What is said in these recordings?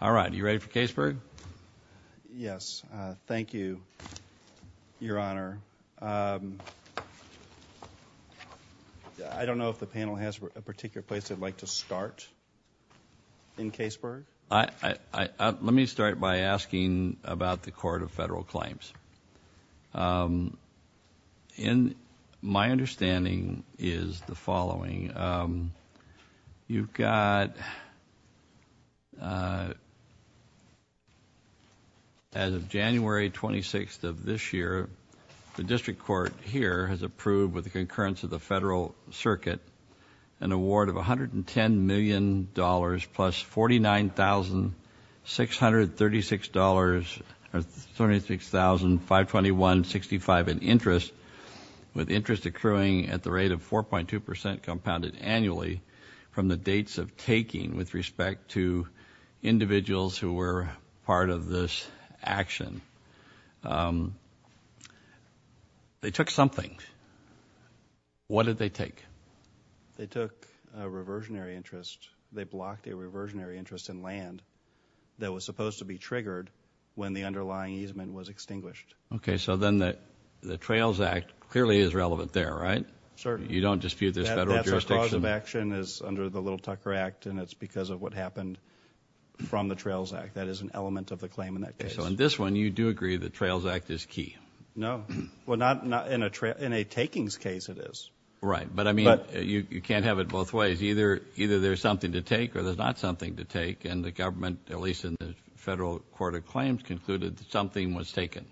All right. Are you ready for Kaseburg? Yes. Thank you, Your Honor. I don't know if the panel has a particular place they'd like to start in Kaseburg. Let me start by asking about the Court of Federal Claims. My understanding is the following. You've got, as of January 26th of this year, the District Court here has approved with the concurrence of the Federal $36,521.65 in interest, with interest accruing at the rate of 4.2% compounded annually from the dates of taking with respect to individuals who were part of this action. They took something. What did they take? They took a reversionary interest. They blocked a reversionary interest in land that was supposed to be triggered when the underlying easement was extinguished. Okay. So then the Trails Act clearly is relevant there, right? Certainly. You don't dispute this federal jurisdiction? That's the cause of action is under the Little Tucker Act, and it's because of what happened from the Trails Act. That is an element of the claim in that case. So in this one, you do agree the Trails Act is key? No. Well, in a takings case it is. Right. But I mean, you can't have it both ways. Either there's something to take, and the government, at least in the Federal Court of Claims, concluded that something was taken.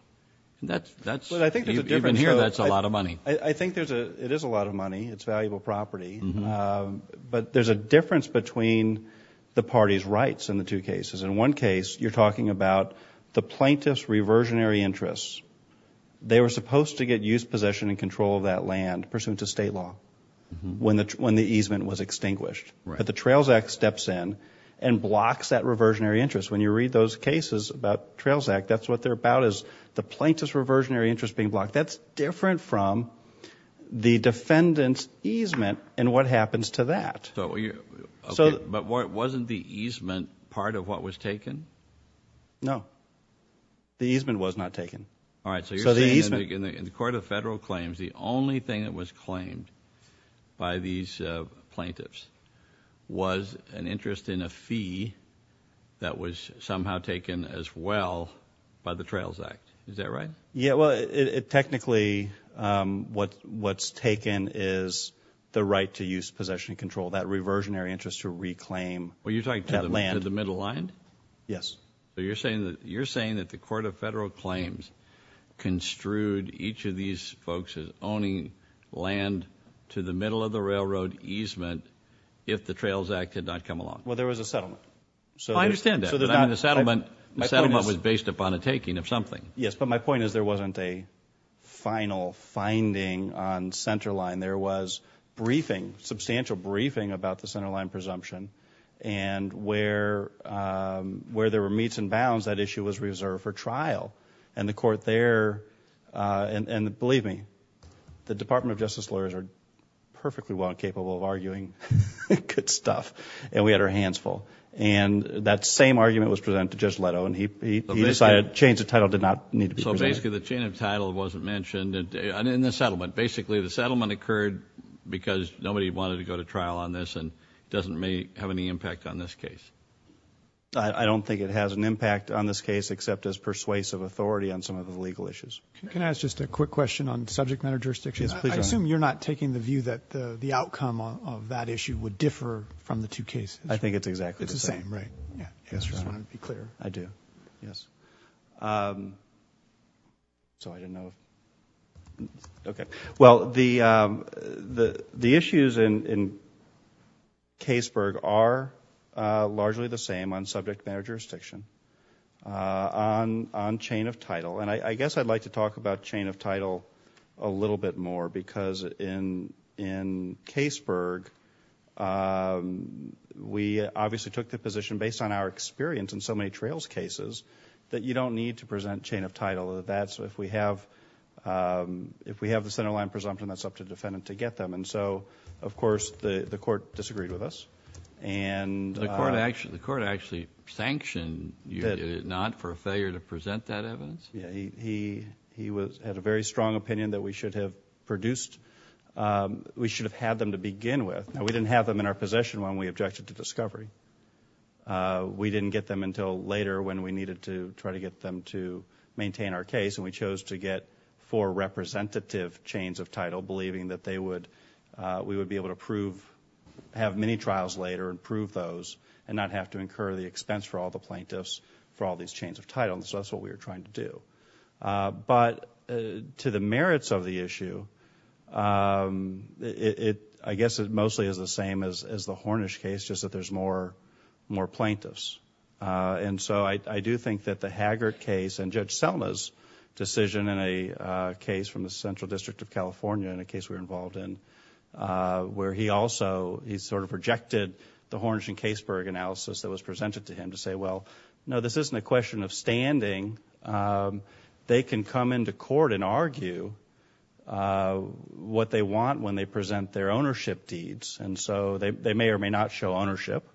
That's, even here, that's a lot of money. I think it is a lot of money. It's valuable property. But there's a difference between the parties' rights in the two cases. In one case, you're talking about the plaintiff's reversionary interests. They were supposed to get use, possession, and control of that land pursuant to state law when the easement was extinguished. But the Trails Act steps in and blocks that reversionary interest. When you read those cases about Trails Act, that's what they're about, is the plaintiff's reversionary interest being blocked. That's different from the defendant's easement and what happens to that. But wasn't the easement part of what was taken? No. The easement was not taken. All right. So you're saying in the Court of Federal Claims, the only thing that was claimed by these plaintiffs was an interest in a fee that was somehow taken as well by the Trails Act. Is that right? Yeah. Well, technically, what's taken is the right to use, possession, and control, that reversionary interest to reclaim that land. Well, you're talking to the middle line? Yes. So you're saying that the Court of Federal to the middle of the railroad easement if the Trails Act did not come along? Well, there was a settlement. I understand that. But the settlement was based upon a taking of something. Yes. But my point is there wasn't a final finding on Centerline. There was briefing, substantial briefing about the Centerline presumption. And where there were meets and bounds, that issue was reserved for trial. And the Court there, and believe me, the Department of Justice lawyers are perfectly well capable of arguing good stuff. And we had our hands full. And that same argument was presented to Judge Leto, and he decided change of title did not need to be presented. So basically, the change of title wasn't mentioned in the settlement. Basically, the settlement occurred because nobody wanted to go to trial on this and doesn't have any impact on this case. I don't think it has an impact on this case except as persuasive authority on some of the legal issues. Can I ask just a quick question on subject matter jurisdiction? I assume you're not taking the view that the outcome of that issue would differ from the two cases. I think it's exactly the same. It's the same, right? I just want to be clear. I do. Yes. Well, the issues in Caseburg are largely the same on subject matter jurisdiction, on chain of title. And I guess I'd like to talk about chain of title a little bit more because in Caseburg, we obviously took the position based on our experience in so many trails cases that you don't need to present chain of title. If we have the centerline presumption, that's up to the defendant to get them. And so, of course, the court disagreed with us. The court actually sanctioned you, did it opinion that we should have produced, we should have had them to begin with. Now, we didn't have them in our possession when we objected to discovery. We didn't get them until later when we needed to try to get them to maintain our case and we chose to get four representative chains of title believing that they would, we would be able to prove, have many trials later and prove those and not have to incur the expense for all the plaintiffs for all that they're going to do. But to the merits of the issue, it, I guess it mostly is the same as the Hornish case, just that there's more, more plaintiffs. And so I do think that the Haggart case and Judge Selma's decision in a case from the Central District of California in a case we were involved in, where he also, he sort of rejected the Hornish and Caseburg analysis that was presented to him to say, well, no, this isn't a question of standing. They can come into court and argue what they want when they present their ownership deeds. And so they may or may not show ownership,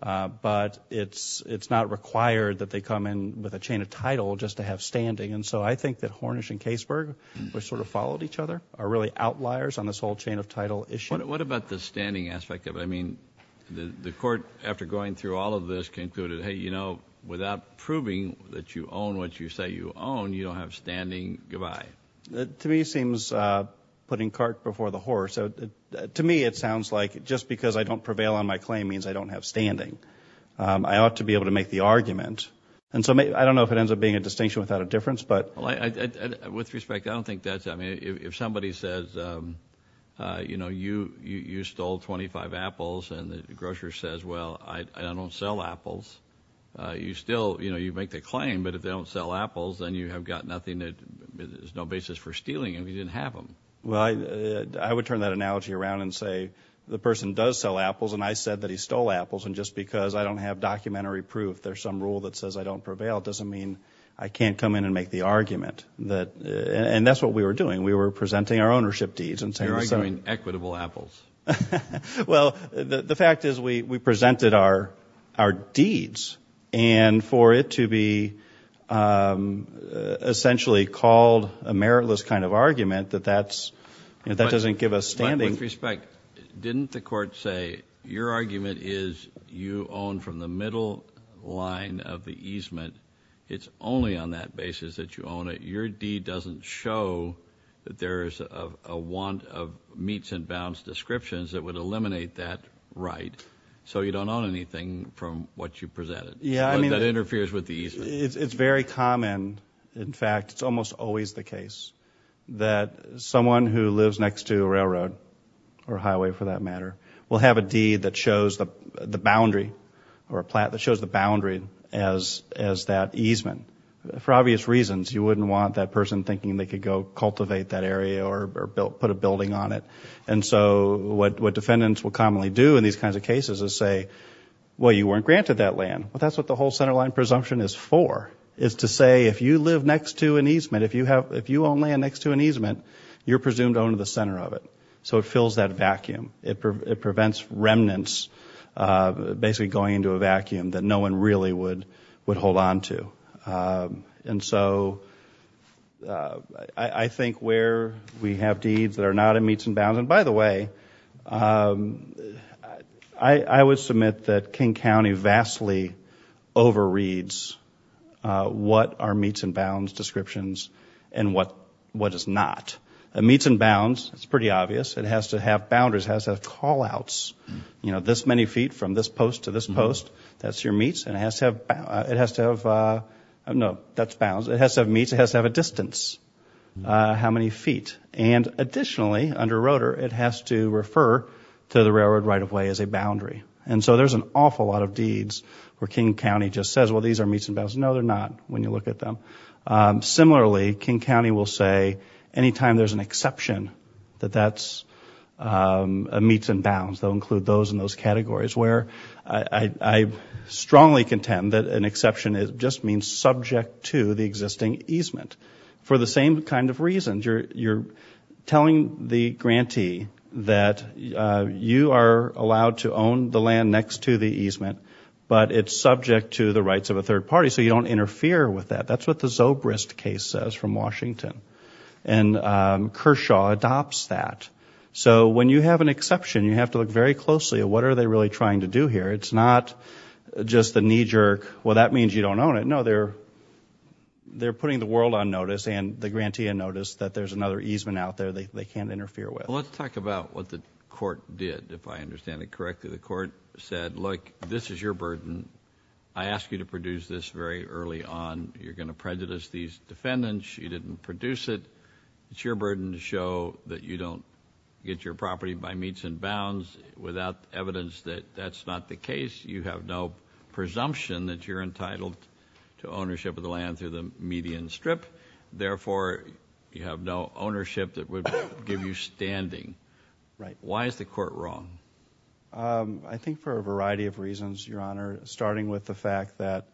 but it's, it's not required that they come in with a chain of title just to have standing. And so I think that Hornish and Caseburg were sort of followed each other, are really outliers on this whole chain of title issue. What about the standing aspect of it? I mean, the court, after going through all of this, concluded, hey, you know, without proving that you own what you say you own, you don't have standing. Goodbye. To me, it seems putting cart before the horse. So to me, it sounds like just because I don't prevail on my claim means I don't have standing. I ought to be able to make the argument. And so I don't know if it ends up being a distinction without a difference, but I, with respect, I don't think that's, I mean, if somebody says, you know, you, you, you stole 25 apples and the grocer says, well, I don't sell apples. You still, you know, you make the claim, but if they don't sell apples, then you have got nothing that is no basis for stealing and we didn't have them. Well, I would turn that analogy around and say, the person does sell apples. And I said that he stole apples. And just because I don't have documentary proof, there's some rule that says I don't prevail. It doesn't mean I can't come in and make the argument that, and that's what we were doing. We were presenting our ownership deeds and saying, You're arguing equitable apples. Well, the fact is we, we presented our, our deeds and for it to be, um, essentially called a meritless kind of argument that that's, you know, that doesn't give us standing. With respect, didn't the court say your argument is you own from the middle line of the easement. It's only on that basis that you own it. Your deed doesn't show that there is a want of meets and bounds descriptions that would eliminate that right. So you don't own anything from what you presented that interferes with the easement. It's very common. In fact, it's almost always the case that someone who lives next to a or highway for that matter, will have a deed that shows the boundary or a plant that shows the boundary as, as that easement. For obvious reasons, you wouldn't want that person thinking they could go cultivate that area or, or built, put a building on it. And so what, what defendants will commonly do in these kinds of cases is say, well, you weren't granted that land. Well, that's what the whole center line presumption is for is to say, if you live next to an easement, if you have, if you own land next to an easement, you're presumed owner of the center of it. So it fills that vacuum. It prevents remnants of basically going into a vacuum that no one really would, would hold on to. And so I think where we have deeds that are not a meets and bounds, and by the way, I would submit that King County vastly overreads what are meets and bounds descriptions and what, what is not. A meets and bounds, it's pretty obvious, it has to have boundaries, it has to have call outs. You know, this many feet from this post to this post, that's your meets, and it has to have, it has to have, I don't know, that's bounds, it has to have meets, it has to have a distance. How many feet? And additionally, under rotor, it has to refer to the railroad right of way as a boundary. And so there's an awful lot of deeds where King County just says, well, these are meets and bounds. No, they're not, when you look at them. Similarly, King County will say, any time there's an exception that that's a meets and bounds, they'll include those in those categories where I strongly contend that an exception just means subject to the existing easement. For the same kind of reasons, you're telling the grantee that you are allowed to own the land next to the easement, but it's subject to the rights of a third party. So you don't interfere with that. That's what the Zobrist case says from Washington. And Kershaw adopts that. So when you have an exception, you have to look very closely at what are they really trying to do here. It's not just a knee-jerk, well, that means you don't own it. No, they're putting the world on notice and the grantee on notice that there's another easement out there they can't interfere with. Well, let's talk about what the court did, if I understand it correctly. The court said, look, this is your burden. I ask you to produce this very early on. You're going to prejudice these defendants. You didn't produce it. It's your burden to show that you don't get your property by meets and bounds without evidence that that's not the case. You have no presumption that you're entitled to ownership of the land through the median strip. Therefore, you have no ownership that would give you standing. Why is the court wrong? I think for a variety of reasons, Your Honor, starting with the fact that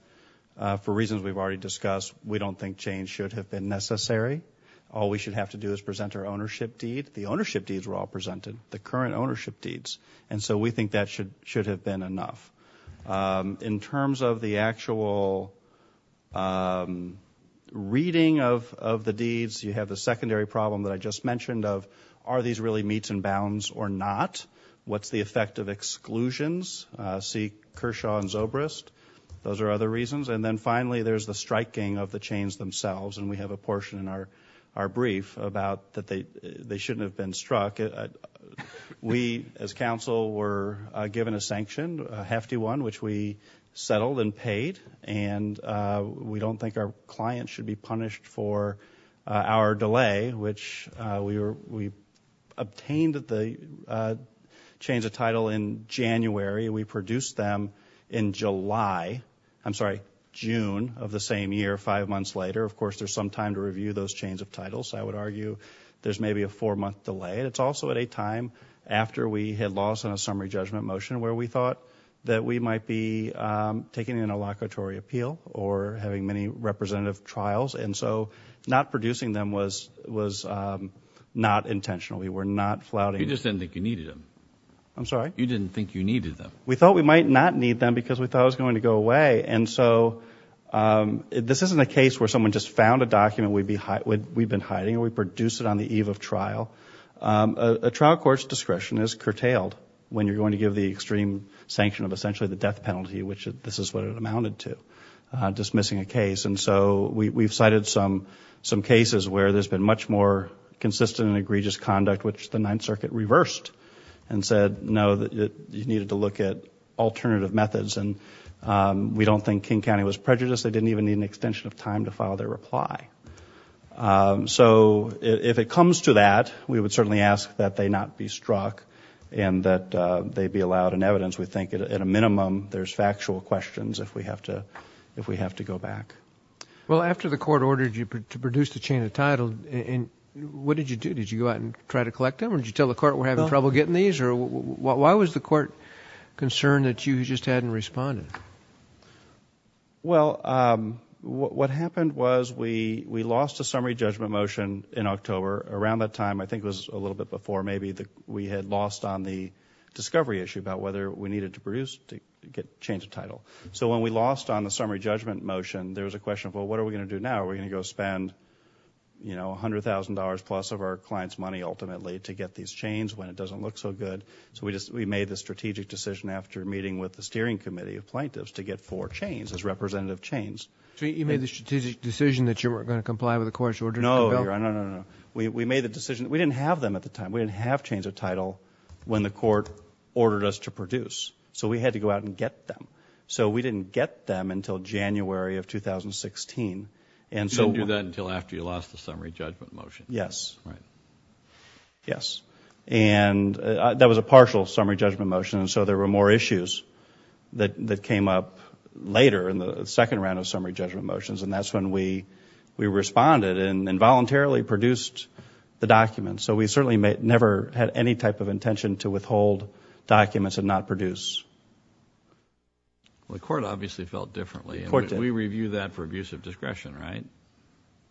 for reasons we've already discussed, we don't think change should have been necessary. All we should have to do is present our ownership deed. The ownership deeds were all presented, the current ownership deeds. And so we think that should have been enough. In terms of the actual reading of the deeds, you have the secondary problem that I just mentioned of are these really meets and bounds or not? What's the effect of exclusions? See Kershaw and Zobrist. Those are other reasons. And then finally, there's the striking of the chains themselves. And we have a portion in our brief about that they shouldn't have been struck. We as counsel were given a sanction, a hefty one, which we settled and paid. And we don't think our punished for our delay, which we obtained the chains of title in January. We produced them in July. I'm sorry, June of the same year, five months later. Of course, there's some time to review those chains of titles. I would argue there's maybe a four-month delay. It's also at a time after we had lost on a summary judgment motion where we thought that we might be taking an interlocutory appeal or having many representative trials. And so not producing them was not intentional. We were not flouting. You just didn't think you needed them. I'm sorry? You didn't think you needed them. We thought we might not need them because we thought it was going to go away. And so this isn't a case where someone just found a document we've been hiding and we produce it on the eve of trial. A trial court's discretion is curtailed when you're going to give the death penalty, which this is what it amounted to, dismissing a case. And so we've cited some cases where there's been much more consistent and egregious conduct, which the Ninth Circuit reversed and said, no, you needed to look at alternative methods. And we don't think King County was prejudiced. They didn't even need an extension of time to file their reply. So if it comes to that, we would certainly ask that they not be struck and that they be allowed an evidence. We think at a minimum, there's factual questions if we have to go back. Well, after the court ordered you to produce the chain of title, what did you do? Did you go out and try to collect them or did you tell the court we're having trouble getting these or why was the court concerned that you just hadn't responded? Well, what happened was we lost a summary judgment motion in October. Around that time, I think it was a little bit before, maybe we had lost on the discovery issue about whether we needed to produce to get change of title. So when we lost on the summary judgment motion, there was a question of, well, what are we going to do now? Are we going to go spend, you know, $100,000 plus of our client's money ultimately to get these chains when it doesn't look so good? So we just, we made the strategic decision after meeting with the steering committee of plaintiffs to get four chains as representative chains. So you made the strategic decision that you weren't going to comply with the court's order to compel? No, no, no, no. We made the decision, we didn't have them at the time. We didn't have chains of title when the court ordered us to produce. So we had to go out and get them. So we didn't get them until January of 2016. And so you didn't do that until after you lost the summary judgment motion? Yes. Yes. And that was a partial summary judgment motion. And so there were more issues that came up later in the second round of summary judgment motions. And that's when we, we responded and involuntarily produced the documents. So we certainly never had any type of intention to withhold documents and not produce. The court obviously felt differently. We review that for abuse of discretion, right?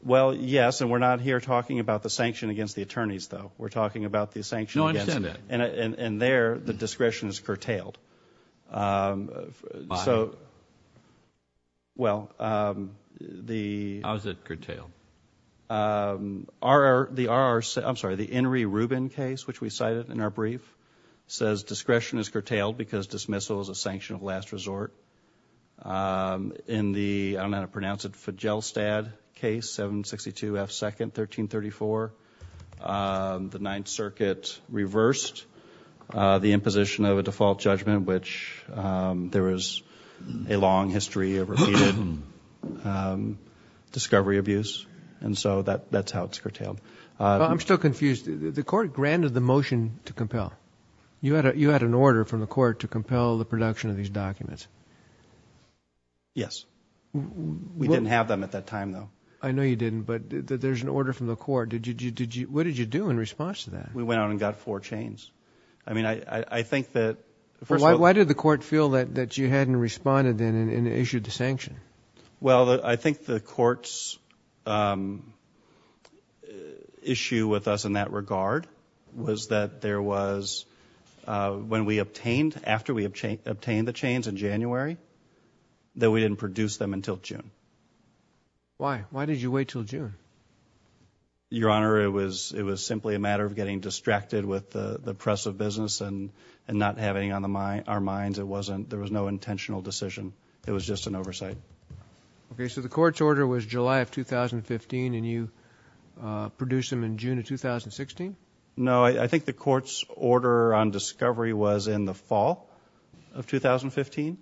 Well, yes. And we're not here talking about the sanction against the attorneys, though. We're talking about the sanction against... No, I understand that. And there, the discretion is curtailed. Why? Well, the... How is it curtailed? The RR, I'm sorry, the Enri Rubin case, which we cited in our brief, says discretion is curtailed because dismissal is a sanction of last resort. In the, I don't know how to pronounce it, Fijelstad case, 762 F. 2nd, 1334, the Ninth Circuit reversed the imposition of a default judgment, which there is a long history of repeated discovery abuse. And so that's how it's curtailed. Well, I'm still confused. The court granted the motion to compel. You had a, you had an order from the court to compel the production of these documents. Yes. We didn't have them at that time, though. I know you didn't, but there's an order from the court. Did you, did you, what did you do in response to that? We went out and got four chains. I mean, I, I think that first of all... Why did the court feel that, that you hadn't responded then and issued the sanction? Well, I think the court's issue with us in that regard was that there was, when we obtained, after we obtained the chains in January, that we didn't produce them until June. Why? Why did you wait until June? Your Honor, it was, it was simply a matter of getting distracted with the, the press of business and, and not having on the mind, our minds. It wasn't, there was no intentional decision. It was just an oversight. Okay. So the court's order was July of 2015 and you produced them in June of 2016? No, I think the court's order on discovery was in the fall of 2015.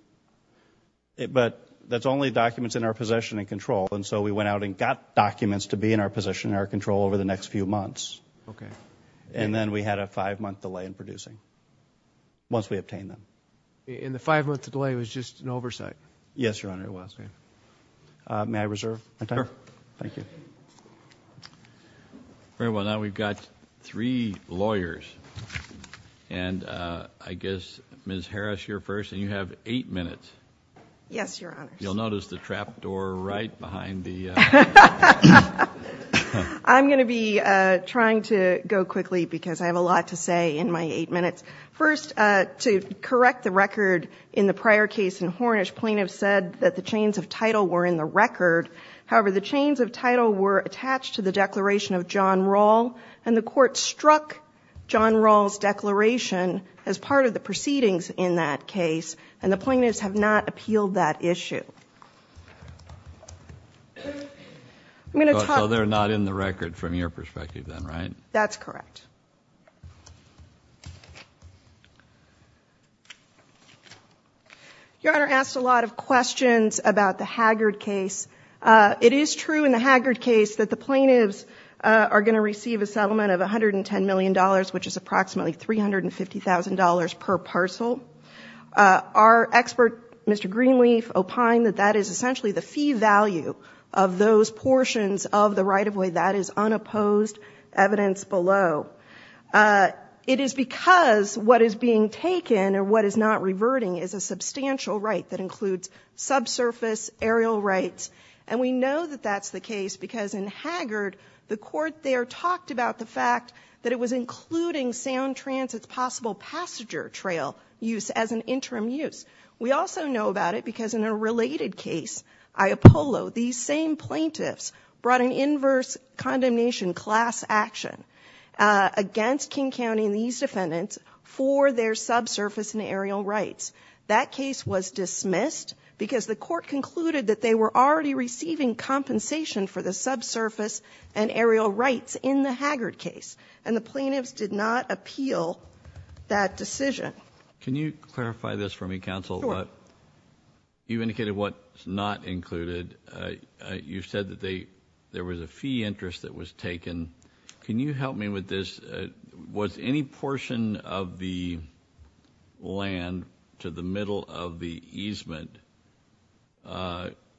But that's only documents in our possession and control. And so we went out and got documents to be in our possession and our control over the next few months. Okay. And then we had a five-month delay in producing, once we obtained them. And the five-month delay was just an oversight? Yes, Your Honor, it was. May I reserve my time? Sure. Thank you. Very well. Now we've got three lawyers. And I guess Ms. Harris, you're first, and you have eight minutes. Yes, Your Honor. You'll notice the trap door right behind the... I'm going to be trying to go quickly because I have a lot to say in my eight minutes. First, to correct the record in the prior case in Hornish, plaintiffs said that the chains of title were in the record. However, the chains of title were attached to the declaration of John Rall, and the court struck John Rall's declaration as part of the proceedings in that case, and the plaintiffs have not appealed that issue. So they're not in the record from your perspective then, right? That's correct. Your Honor asked a lot of questions about the Haggard case. It is true in the Haggard case that the plaintiffs are going to receive a settlement of $110 million, which is approximately $350,000 per parcel. Our expert, Mr. Greenleaf, opined that that is essentially the fee value of those portions of the right-of-way. That is unopposed evidence below. It is because what is being taken or what is not reverting is a substantial right that includes subsurface aerial rights. And we know that that's the case because in Haggard, the court there talked about the fact that it was including Sound Transit's possible passenger trail use as an interim use. We also know about it because in a related case, I Apollo, these same plaintiffs brought an inverse condemnation class action against King County and these defendants for their subsurface and aerial rights. That case was dismissed because the court concluded that they were already receiving compensation for the subsurface and aerial rights in the Haggard case. And the plaintiffs did not appeal that decision. Can you clarify this for me, counsel? Sure. You indicated what is not included. You said that there was a fee interest that was taken. Can you help me with this? Was any portion of the land to the middle of the easement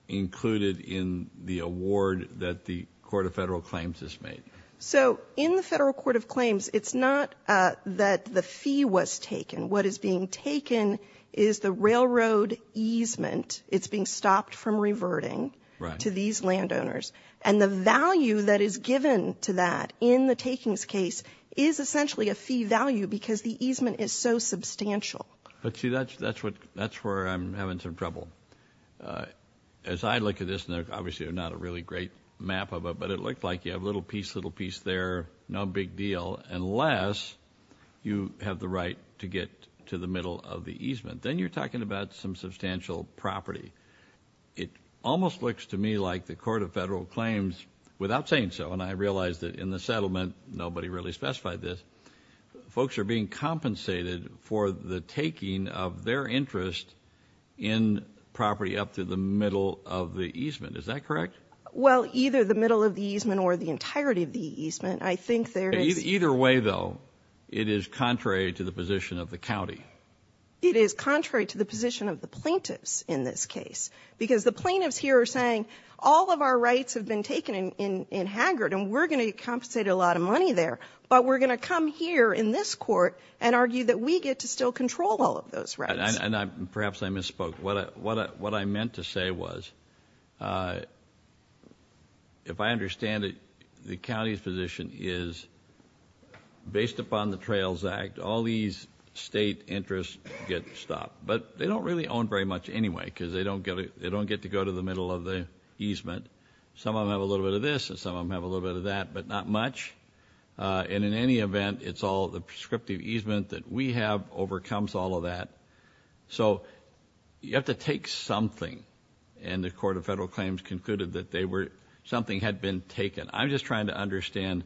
included in the award that the Court of Federal Claims has made? So in the Federal Court of Claims, it's not that the fee was taken. What is being taken is the railroad easement. It's being stopped from reverting to these landowners. And the contribution to that in the takings case is essentially a fee value because the easement is so substantial. But see, that's where I'm having some trouble. As I look at this, and obviously there's not a really great map of it, but it looks like you have little piece, little piece there, no big deal, unless you have the right to get to the middle of the easement. Then you're talking about some substantial property. It almost looks to me like the Court of Federal Claims in the settlement, nobody really specified this, folks are being compensated for the taking of their interest in property up to the middle of the easement. Is that correct? Well, either the middle of the easement or the entirety of the easement. I think there is... Either way, though, it is contrary to the position of the county. It is contrary to the position of the plaintiffs in this case because the plaintiffs here are rights have been taken in Haggard, and we're going to compensate a lot of money there, but we're going to come here in this court and argue that we get to still control all of those rights. And perhaps I misspoke. What I meant to say was, if I understand it, the county's position is, based upon the Trails Act, all these state interests get stopped. But they don't really go to the middle of the easement. Some of them have a little bit of this, and some of them have a little bit of that, but not much. And in any event, it's all the prescriptive easement that we have overcomes all of that. So you have to take something, and the Court of Federal Claims concluded that something had been taken. I'm just trying to understand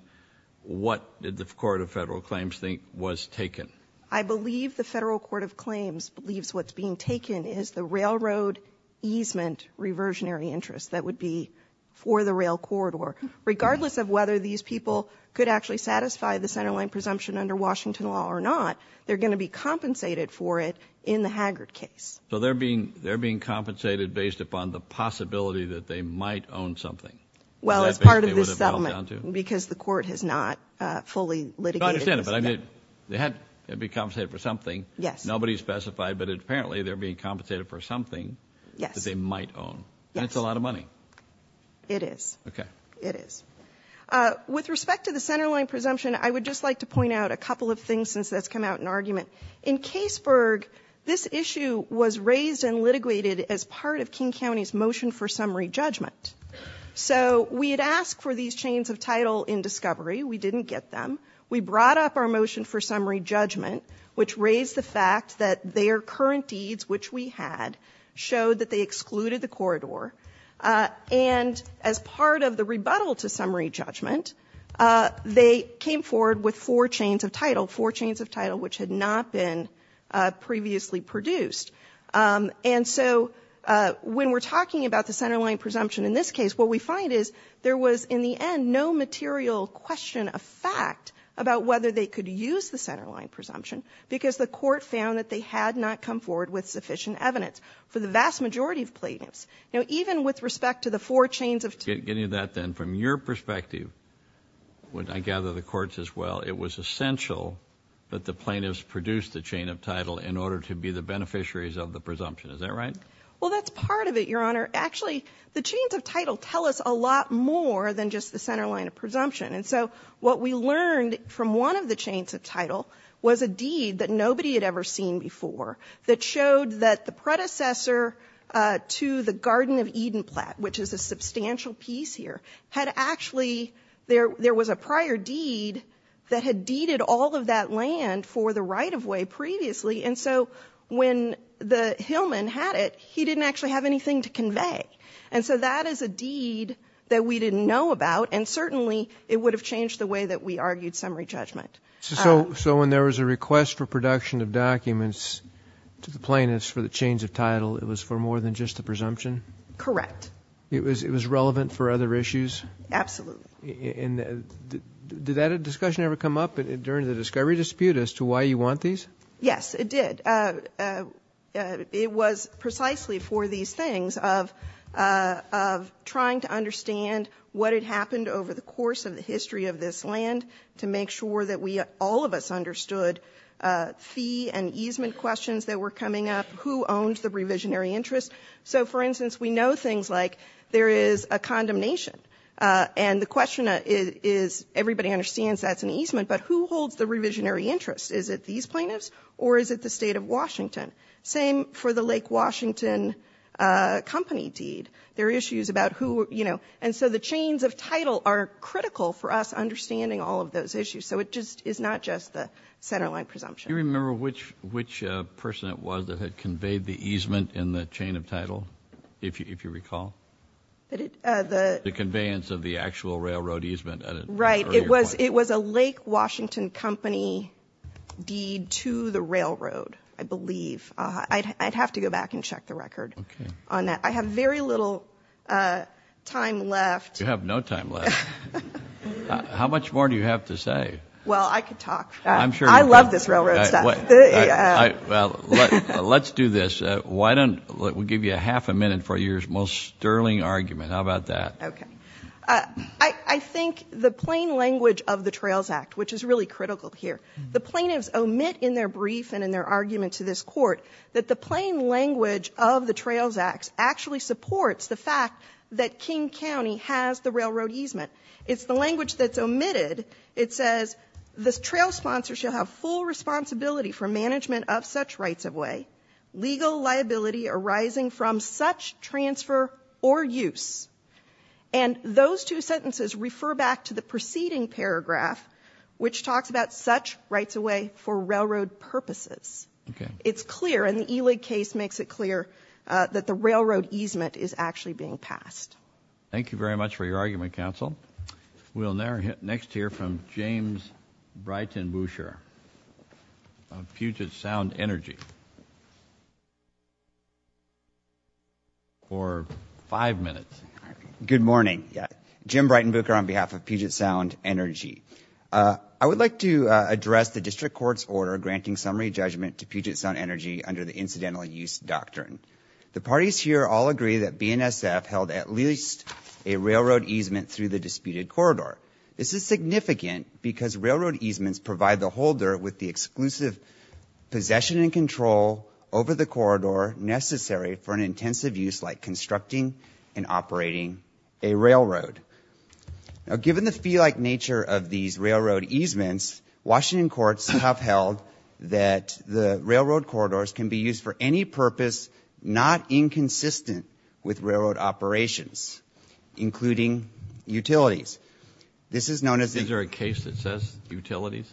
what did the Court of Federal Claims think was taken? I believe the Federal Court of Claims believes what's being taken is the railroad easement reversionary interest that would be for the rail corridor. Regardless of whether these people could actually satisfy the centerline presumption under Washington law or not, they're going to be compensated for it in the Haggard case. So they're being compensated based upon the possibility that they might own something. Well, as part of this settlement, because the court has not fully litigated this. I understand, but I mean, they had to be compensated for something. Yes. Nobody specified, but apparently they're being compensated for something that they might own. Yes. And it's a lot of money. It is. Okay. It is. With respect to the centerline presumption, I would just like to point out a couple of things since that's come out in argument. In Caseburg, this issue was raised and litigated as part of King County's motion for summary judgment. So we had asked for these chains of title in discovery. We didn't get them. We brought up our motion for summary judgment, which raised the fact that their current deeds, which we had, showed that they excluded the corridor. And as part of the rebuttal to summary judgment, they came forward with four chains of title, four chains of title which had not been previously produced. And so when we're talking about the centerline presumption in this case, what we find is there was, in the end, no material question of fact about whether they could use the centerline presumption because the court found that they had not come forward with sufficient evidence for the vast majority of plaintiffs. Now, even with respect to the four chains of title... Getting to that then, from your perspective, I gather the court's as well, it was essential that the plaintiffs produce the chain of title in order to be the beneficiaries of the presumption. Is that right? Well, that's part of it, Your Honor. Actually, the chains of title tell us a lot more than just the centerline of presumption. And so what we learned from one of the chains of title was a deed that nobody had ever seen before that showed that the predecessor to the Garden of Eden plat, which is a substantial piece here, had actually, there was a prior deed that had deeded all of that land for the right-of-way previously. And so when the Hillman had it, he didn't actually have anything to convey. And so that is a deed that we didn't know about, and certainly it would have changed the way that we argued summary judgment. So when there was a request for production of documents to the plaintiffs for the chains of title, it was for more than just the presumption? Correct. It was relevant for other issues? Absolutely. And did that discussion ever come up during the discovery dispute as to why you want these? Yes, it did. It was precisely for these things of trying to understand what had happened over the course of the history of this land to make sure that all of us understood fee and easement questions that were coming up, who owns the revisionary interest. So, for instance, we know things like there is a condemnation. And the question is, everybody understands that's an easement, but who holds the easement? Is it these plaintiffs or is it the State of Washington? Same for the Lake Washington Company deed. There are issues about who, you know, and so the chains of title are critical for us understanding all of those issues. So it just is not just the centerline presumption. Do you remember which person it was that had conveyed the easement in the chain of title, if you recall? The conveyance of the actual railroad easement at an earlier point? It was a Lake Washington Company deed to the railroad, I believe. I'd have to go back and check the record on that. I have very little time left. You have no time left. How much more do you have to say? Well, I could talk. I love this railroad stuff. Well, let's do this. We'll give you half a minute for your most sterling argument. How about that? I think the plain language of the Trails Act, which is really critical here, the plaintiffs omit in their brief and in their argument to this Court that the plain language of the Trails Act actually supports the fact that King County has the railroad easement. It's the language that's omitted. It says the trail sponsor shall have full responsibility for management of such rights-of-way, legal liability arising from such transfer or use. And those two sentences refer back to the preceding paragraph, which talks about such rights-of-way for railroad purposes. It's clear, and the Elig case makes it clear, that the railroad easement is actually being passed. We'll now next hear from James Breitenbucher of Puget Sound Energy for five minutes. Good morning. Jim Breitenbucher on behalf of Puget Sound Energy. I would like to address the District Court's order granting summary judgment to Puget Sound Energy under the Incidental Use Doctrine. The parties here all agree that BNSF held at least a railroad easement through the disputed corridor. This is significant because railroad easements provide the holder with the exclusive possession and control over the corridor necessary for an intensive use like constructing and operating a railroad. Now given the fee-like nature of these railroad easements, Washington courts have held that the railroad operations, including utilities. This is known as... Is there a case that says utilities?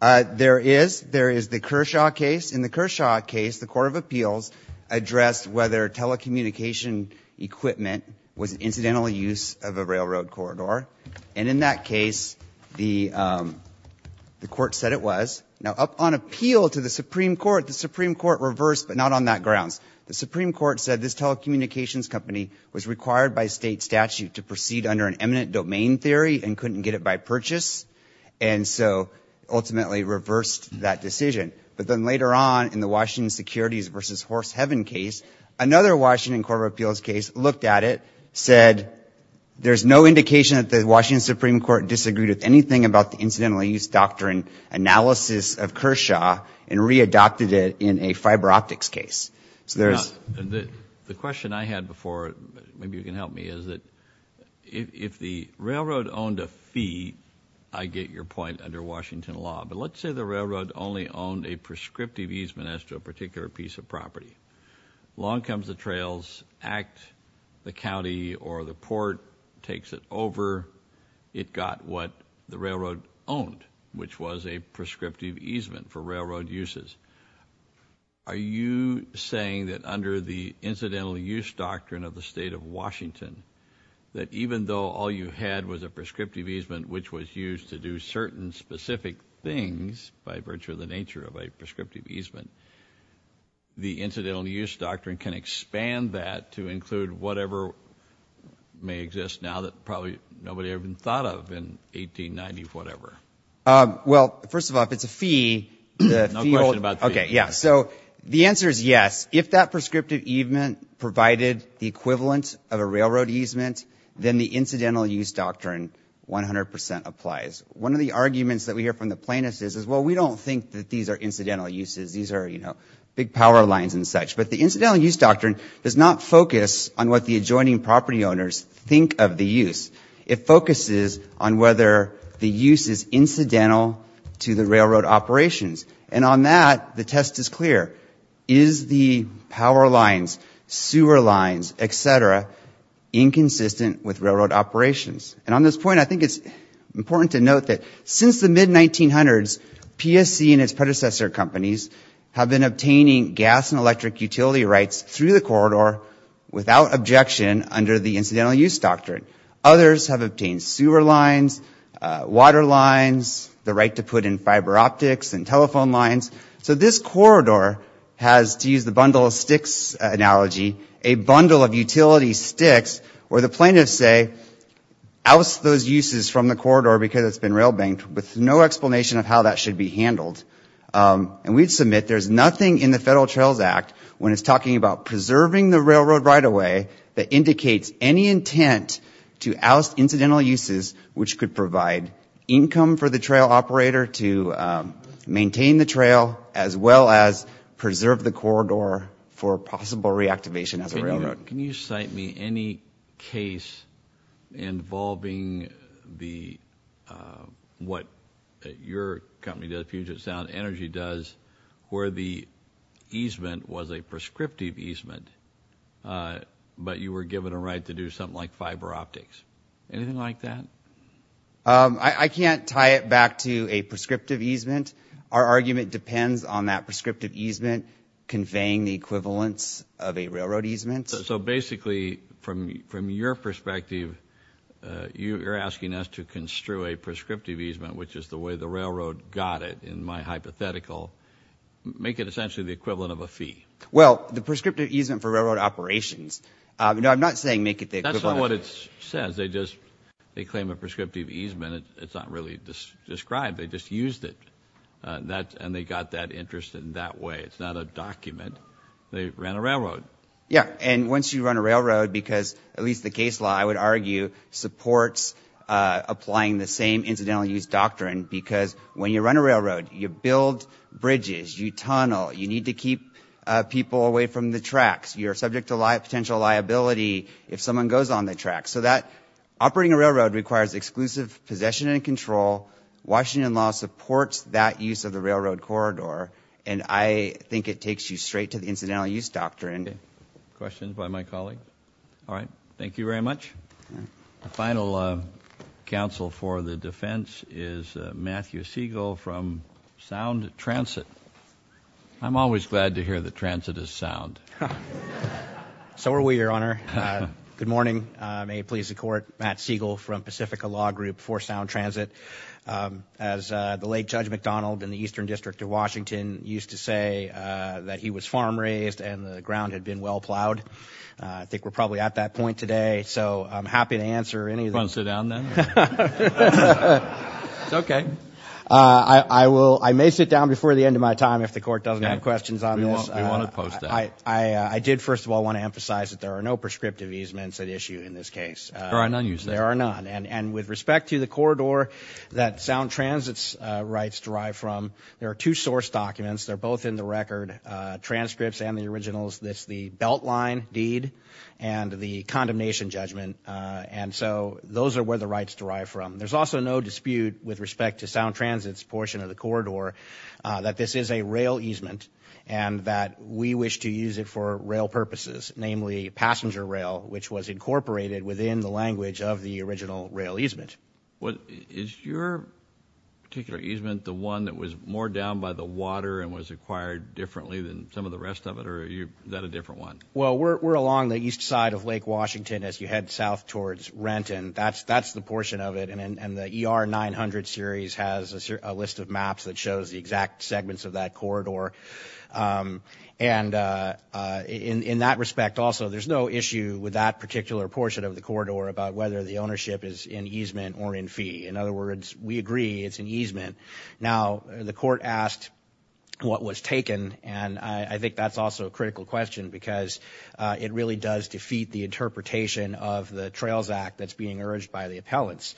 There is. There is the Kershaw case. In the Kershaw case, the Court of Appeals addressed whether telecommunication equipment was an incidental use of a railroad corridor. And in that case, the court said it was. Now on appeal to the Supreme Court, the Supreme Court reversed, but not on that grounds. The Supreme Court said this telecommunications company was required by state statute to proceed under an eminent domain theory and couldn't get it by purchase. And so ultimately reversed that decision. But then later on in the Washington Securities v. Horse Heaven case, another Washington Court of Appeals case looked at it, said there's no indication that the Washington Supreme Court disagreed with anything about the incidental use doctrine analysis of Kershaw and readopted it in a fiber optics case. So there's... The question I had before, maybe you can help me, is that if the railroad owned a fee, I get your point under Washington law, but let's say the railroad only owned a prescriptive easement as to a particular piece of property. Long comes the trails, act, the county or the port takes it over, it got what the railroad owned, which was a prescriptive easement for railroad uses. Are you saying that under the incidental use doctrine of the state of Washington that even though all you had was a prescriptive easement which was used to do certain specific things by virtue of the nature of a prescriptive easement, the incidental use doctrine can expand that to include whatever may exist now that probably nobody even thought of in 1890 or whatever? Well, first of all, if it's a fee... No question about fees. Okay, yeah. So the answer is yes. If that prescriptive easement provided the equivalent of a railroad easement, then the incidental use doctrine 100% applies. One of the arguments that we hear from the plaintiffs is, well, we don't think that these are incidental uses. These are, you know, big power lines and such. But the incidental use doctrine does not focus on what the adjoining property owners think of the use. It focuses on whether the use is incidental to the railroad operations. And on that, the test is clear. Is the power lines, sewer lines, et cetera, inconsistent with railroad operations? And on this point, I think it's important to note that since the mid-1900s, PSC and its predecessor companies have been obtaining gas and electric utility rights through the corridor without objection under the incidental use doctrine. Others have obtained sewer lines, water lines, the right to put in fiber optics and telephone lines. So this corridor has, to use the bundle of sticks analogy, a bundle of utility sticks where the plaintiffs say, oust those uses from the corridor because it's been rail banked with no explanation of how that should be handled. And we'd submit there's nothing in the Federal Trails Act when it's talking about preserving the railroad right-of-way that indicates any intent to oust incidental uses which could provide income for the trail operator to maintain the trail as well as preserve the corridor for possible reactivation as a railroad. Can you cite me any case involving what your company, Puget Sound Energy, does where the easement was a prescriptive easement but you were given a right to do something like fiber optics? Anything like that? I can't tie it back to a prescriptive easement. Our argument depends on that prescriptive easement conveying the equivalence of a railroad easement. So basically, from your perspective, you're asking us to construe a prescriptive easement which is the way the railroad got it in my hypothetical. Make it essentially the equivalent of a fee. Well, the prescriptive easement for railroad operations. No, I'm not saying make it the equivalent of a fee. That's not what it says. They claim a prescriptive easement. It's not really described. They just used it. And they got that interest in that way. It's not a document. They ran a railroad. Yeah, and once you run a railroad because at least the case law, I would argue, supports applying the same incidental use doctrine because when you run a railroad, you build bridges, you tunnel, you need to keep people away from the tracks. You're subject to potential liability if someone goes on the tracks. So operating a railroad requires exclusive possession and control. Washington law supports that use of the railroad corridor, and I think it takes you straight to the incidental use doctrine. Questions by my colleague? All right. Thank you very much. The final counsel for the defense is Matthew Siegel from Sound Transit. I'm always glad to hear that transit is sound. So are we, Your Honor. Good morning. May it please the Court. Matt Siegel from Pacifica Law Group for Sound Transit. As the late Judge McDonald in the Eastern District of Washington used to say, that he was farm raised and the ground had been well plowed. I think we're probably at that point today. So I'm happy to answer any of those. You want to sit down then? It's okay. I may sit down before the end of my time if the Court doesn't have questions on this. We want to post that. I did, first of all, want to emphasize that there are no prescriptive easements at issue in this case. There are none, you say? There are none. And with respect to the corridor that Sound Transit's rights derive from, there are two source documents. They're both in the record, transcripts and the originals. That's the Beltline Deed and the Condemnation Judgment. And so those are where the rights derive from. There's also no dispute with respect to Sound Transit's portion of the corridor that this is a rail easement and that we wish to use it for rail purposes, namely passenger rail, which was incorporated within the language of the original rail easement. Is your particular easement the one that was moored down by the water and was acquired differently than some of the rest of it, or is that a different one? Well, we're along the east side of Lake Washington as you head south towards Renton. That's the portion of it. And the ER 900 series has a list of maps that shows the exact segments of that corridor. And in that respect also, there's no issue with that particular portion of the corridor about whether the ownership is in easement or in fee. In other words, we agree it's in easement. Now, the court asked what was taken, and I think that's also a critical question because it really does defeat the interpretation of the Trails Act that's being urged by the appellants.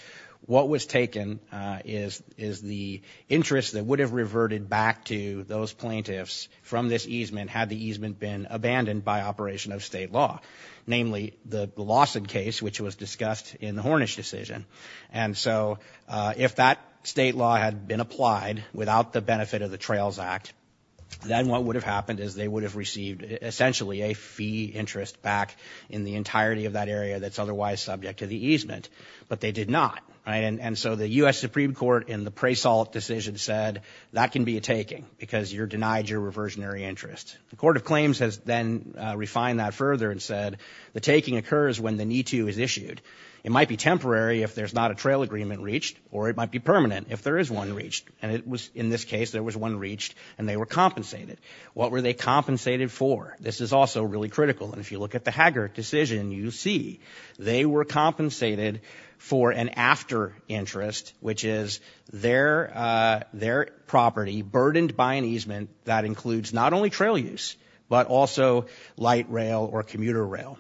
What was taken is the interest that would have reverted back to those plaintiffs from this easement had the easement been abandoned by operation of state law, namely the Lawson case, which was discussed in the Hornish decision. And so if that state law had been applied without the benefit of the Trails Act, then what would have happened is they would have received essentially a fee interest back in the entirety of that area that's otherwise subject to the easement. But they did not. And so the U.S. Supreme Court in the Preysalt decision said that can be a taking because you're denied your reversionary interest. The Court of Claims has then refined that further and said the taking occurs when the need-to is issued. It might be temporary if there's not a trail agreement reached, or it might be permanent if there is one reached. And in this case, there was one reached, and they were compensated. What were they compensated for? This is also really critical. And if you look at the Haggard decision, you see they were compensated for an after interest, which is their property burdened by an easement that includes not only trail use, but also light rail or commuter rail.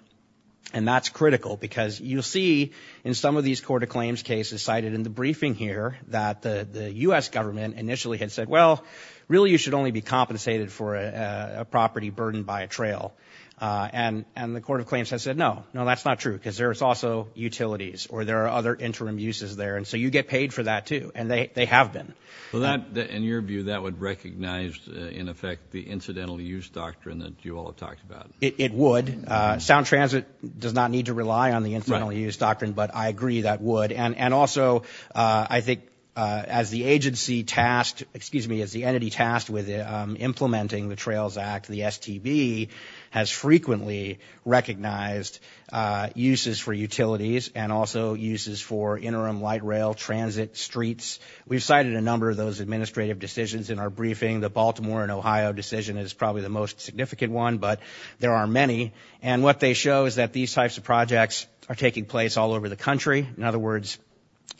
And that's critical because you'll see in some of these Court of Claims cases cited in the briefing here that the U.S. government initially had said, well, really you should only be compensated for a property burdened by a trail. And the Court of Claims has said, no, no, that's not true, because there's also utilities or there are other interim uses there. And so you get paid for that, too. And they have been. In your view, that would recognize, in effect, the incidental use doctrine that you all have talked about. It would. Sound Transit does not need to rely on the incidental use doctrine, but I agree that would. And also I think as the agency tasked, excuse me, as the entity tasked with implementing the Trails Act, the STB has frequently recognized uses for utilities and also uses for interim light rail transit streets. We've cited a number of those administrative decisions in our briefing. The Baltimore and Ohio decision is probably the most significant one, but there are many. And what they show is that these types of projects are taking place all over the country. In other words,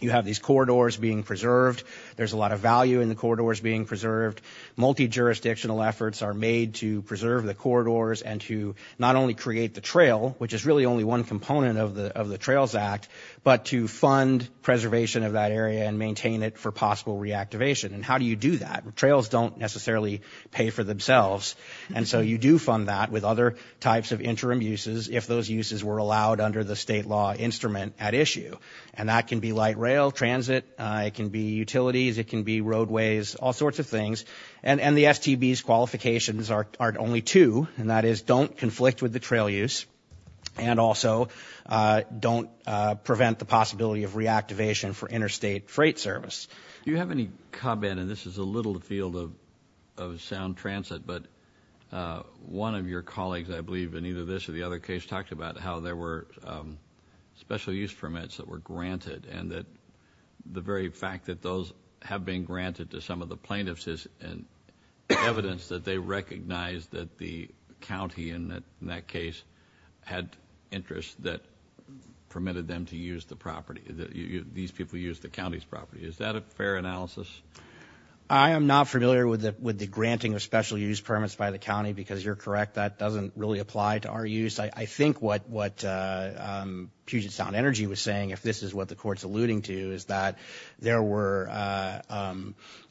you have these corridors being preserved. There's a lot of value in the corridors being preserved. Multi-jurisdictional efforts are made to preserve the corridors and to not only create the trail, which is really only one component of the Trails Act, but to fund preservation of that area and maintain it for possible reactivation. And how do you do that? Trails don't necessarily pay for themselves. And so you do fund that with other types of interim uses if those uses were allowed under the state law instrument at issue. And that can be light rail transit. It can be utilities. It can be roadways, all sorts of things. And the STB's qualifications are only two, and that is don't conflict with the trail use and also don't prevent the possibility of reactivation for interstate freight service. Do you have any comment, and this is a little field of sound transit, but one of your colleagues, I believe, in either this or the other case, talked about how there were special use permits that were granted and that the very fact that those have been granted to some of the plaintiffs is evidence that they recognize that the county in that case had interests that permitted them to use the property. These people used the county's property. Is that a fair analysis? I am not familiar with the granting of special use permits by the county, because you're correct, that doesn't really apply to our use. I think what Puget Sound Energy was saying, if this is what the court's alluding to, is that there were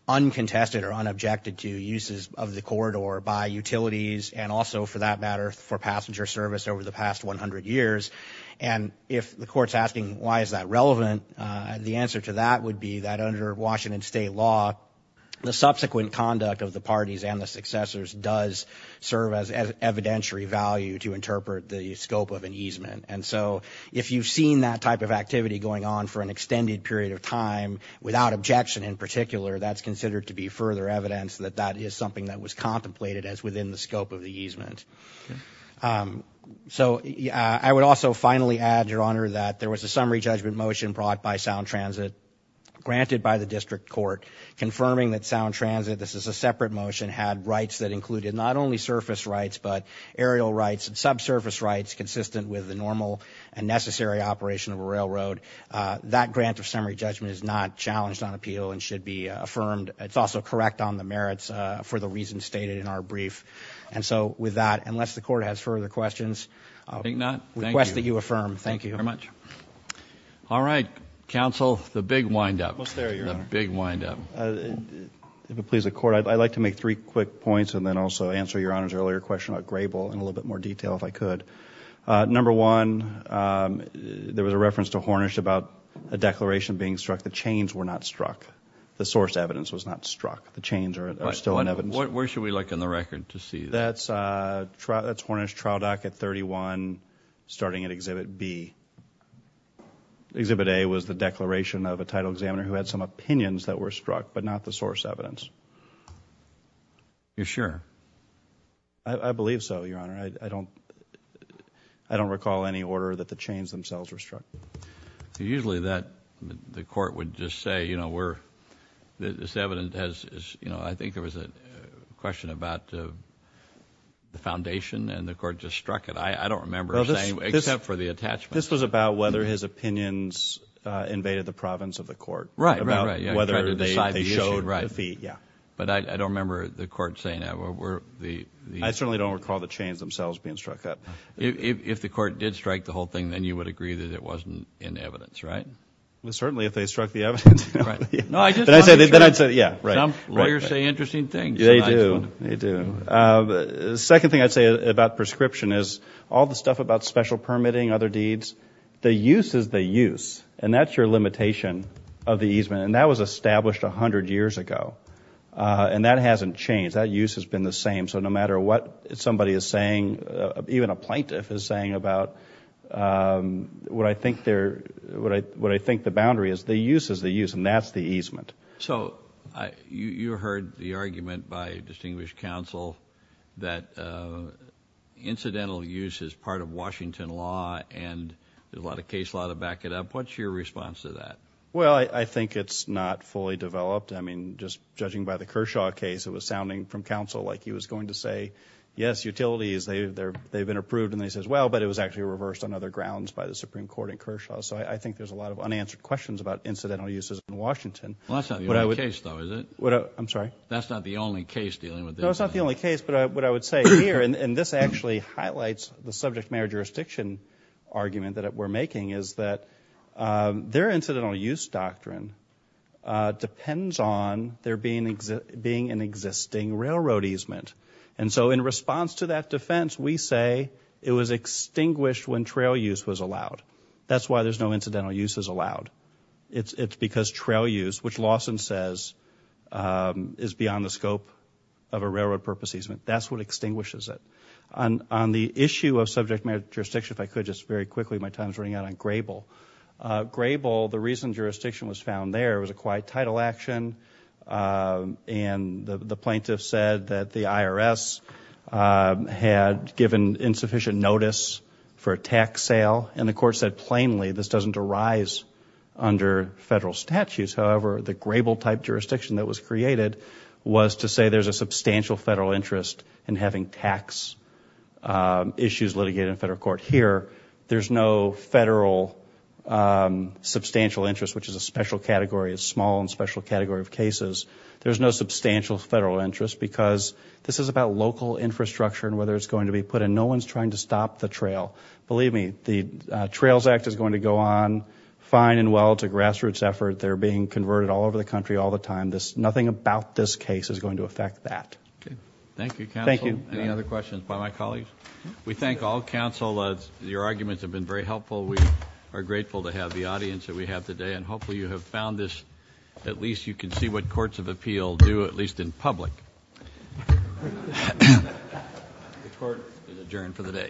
uncontested or unobjected to uses of the corridor by utilities and also, for that matter, for passenger service over the past 100 years. And if the court's asking why is that relevant, the answer to that would be that under Washington state law, the subsequent conduct of the parties and the successors does serve as evidentiary value to interpret the scope of an easement. And so if you've seen that type of activity going on for an extended period of time, without objection in particular, that's considered to be further evidence that that is something that was contemplated as within the scope of the easement. So I would also finally add, Your Honor, that there was a summary judgment motion brought by Sound Transit, granted by the district court, confirming that Sound Transit, this is a separate motion, had rights that included not only surface rights but aerial rights and subsurface rights consistent with the normal and necessary operation of a railroad. That grant of summary judgment is not challenged on appeal and should be affirmed. It's also correct on the merits for the reasons stated in our brief. And so with that, unless the court has further questions, I request that you affirm. Thank you very much. All right. Counsel, the big windup. The big windup. If it pleases the court, I'd like to make three quick points and then also answer Your Honor's earlier question about Grable in a little bit more detail if I could. Number one, there was a reference to Hornish about a declaration being struck. The chains were not struck. The source evidence was not struck. The chains are still in evidence. Where should we look in the record to see that? That's Hornish Trial Docket 31 starting at Exhibit B. Exhibit A was the declaration of a title examiner who had some opinions that were struck but not the source evidence. You're sure? I believe so, Your Honor. I don't recall any order that the chains themselves were struck. Usually the court would just say, you know, this evidence has, you know, I think there was a question about the foundation and the court just struck it. I don't remember saying except for the attachment. This was about whether his opinions invaded the province of the court. Right, right, right. About whether they showed defeat, yeah. But I don't remember the court saying that. I certainly don't recall the chains themselves being struck up. If the court did strike the whole thing, then you would agree that it wasn't in evidence, right? Certainly if they struck the evidence. No, I just wanted to make sure. Then I'd say, yeah, right. Some lawyers say interesting things. They do. The second thing I'd say about prescription is all the stuff about special permitting, other deeds, the use is the use, and that's your limitation of the easement. And that was established 100 years ago, and that hasn't changed. That use has been the same. So no matter what somebody is saying, even a plaintiff is saying about what I think the boundary is, the use is the use, and that's the easement. So you heard the argument by distinguished counsel that incidental use is part of Washington law and there's a lot of case law to back it up. What's your response to that? Well, I think it's not fully developed. I mean, just judging by the Kershaw case, it was sounding from counsel like he was going to say, yes, utilities, they've been approved, and then he says, well, but it was actually reversed on other grounds by the Supreme Court in Kershaw. So I think there's a lot of unanswered questions about incidental uses in Washington. Well, that's not the only case, though, is it? I'm sorry? That's not the only case dealing with this. No, it's not the only case, but what I would say here, and this actually highlights the subject matter jurisdiction argument that we're making, is that their incidental use doctrine depends on there being an existing railroad easement. And so in response to that defense, we say it was extinguished when trail use was allowed. That's why there's no incidental uses allowed. It's because trail use, which Lawson says is beyond the scope of a railroad purpose easement, that's what extinguishes it. On the issue of subject matter jurisdiction, if I could just very quickly, my time is running out on Grable. Grable, the reason jurisdiction was found there was a quiet title action, and the plaintiff said that the IRS had given insufficient notice for a tax sale, and the court said plainly this doesn't arise under federal statutes. However, the Grable type jurisdiction that was created was to say there's a substantial federal interest in having tax issues litigated in federal court. Here, there's no federal substantial interest, which is a special category, a small and special category of cases. There's no substantial federal interest because this is about local infrastructure and whether it's going to be put in. No one's trying to stop the trail. Believe me, the Trails Act is going to go on fine and well. It's a grassroots effort. They're being converted all over the country all the time. Nothing about this case is going to affect that. Thank you, counsel. Thank you. Any other questions by my colleagues? We thank all counsel. Your arguments have been very helpful. We are grateful to have the audience that we have today, and hopefully you have found this. At least you can see what courts of appeal do, at least in public. The court is adjourned for the day.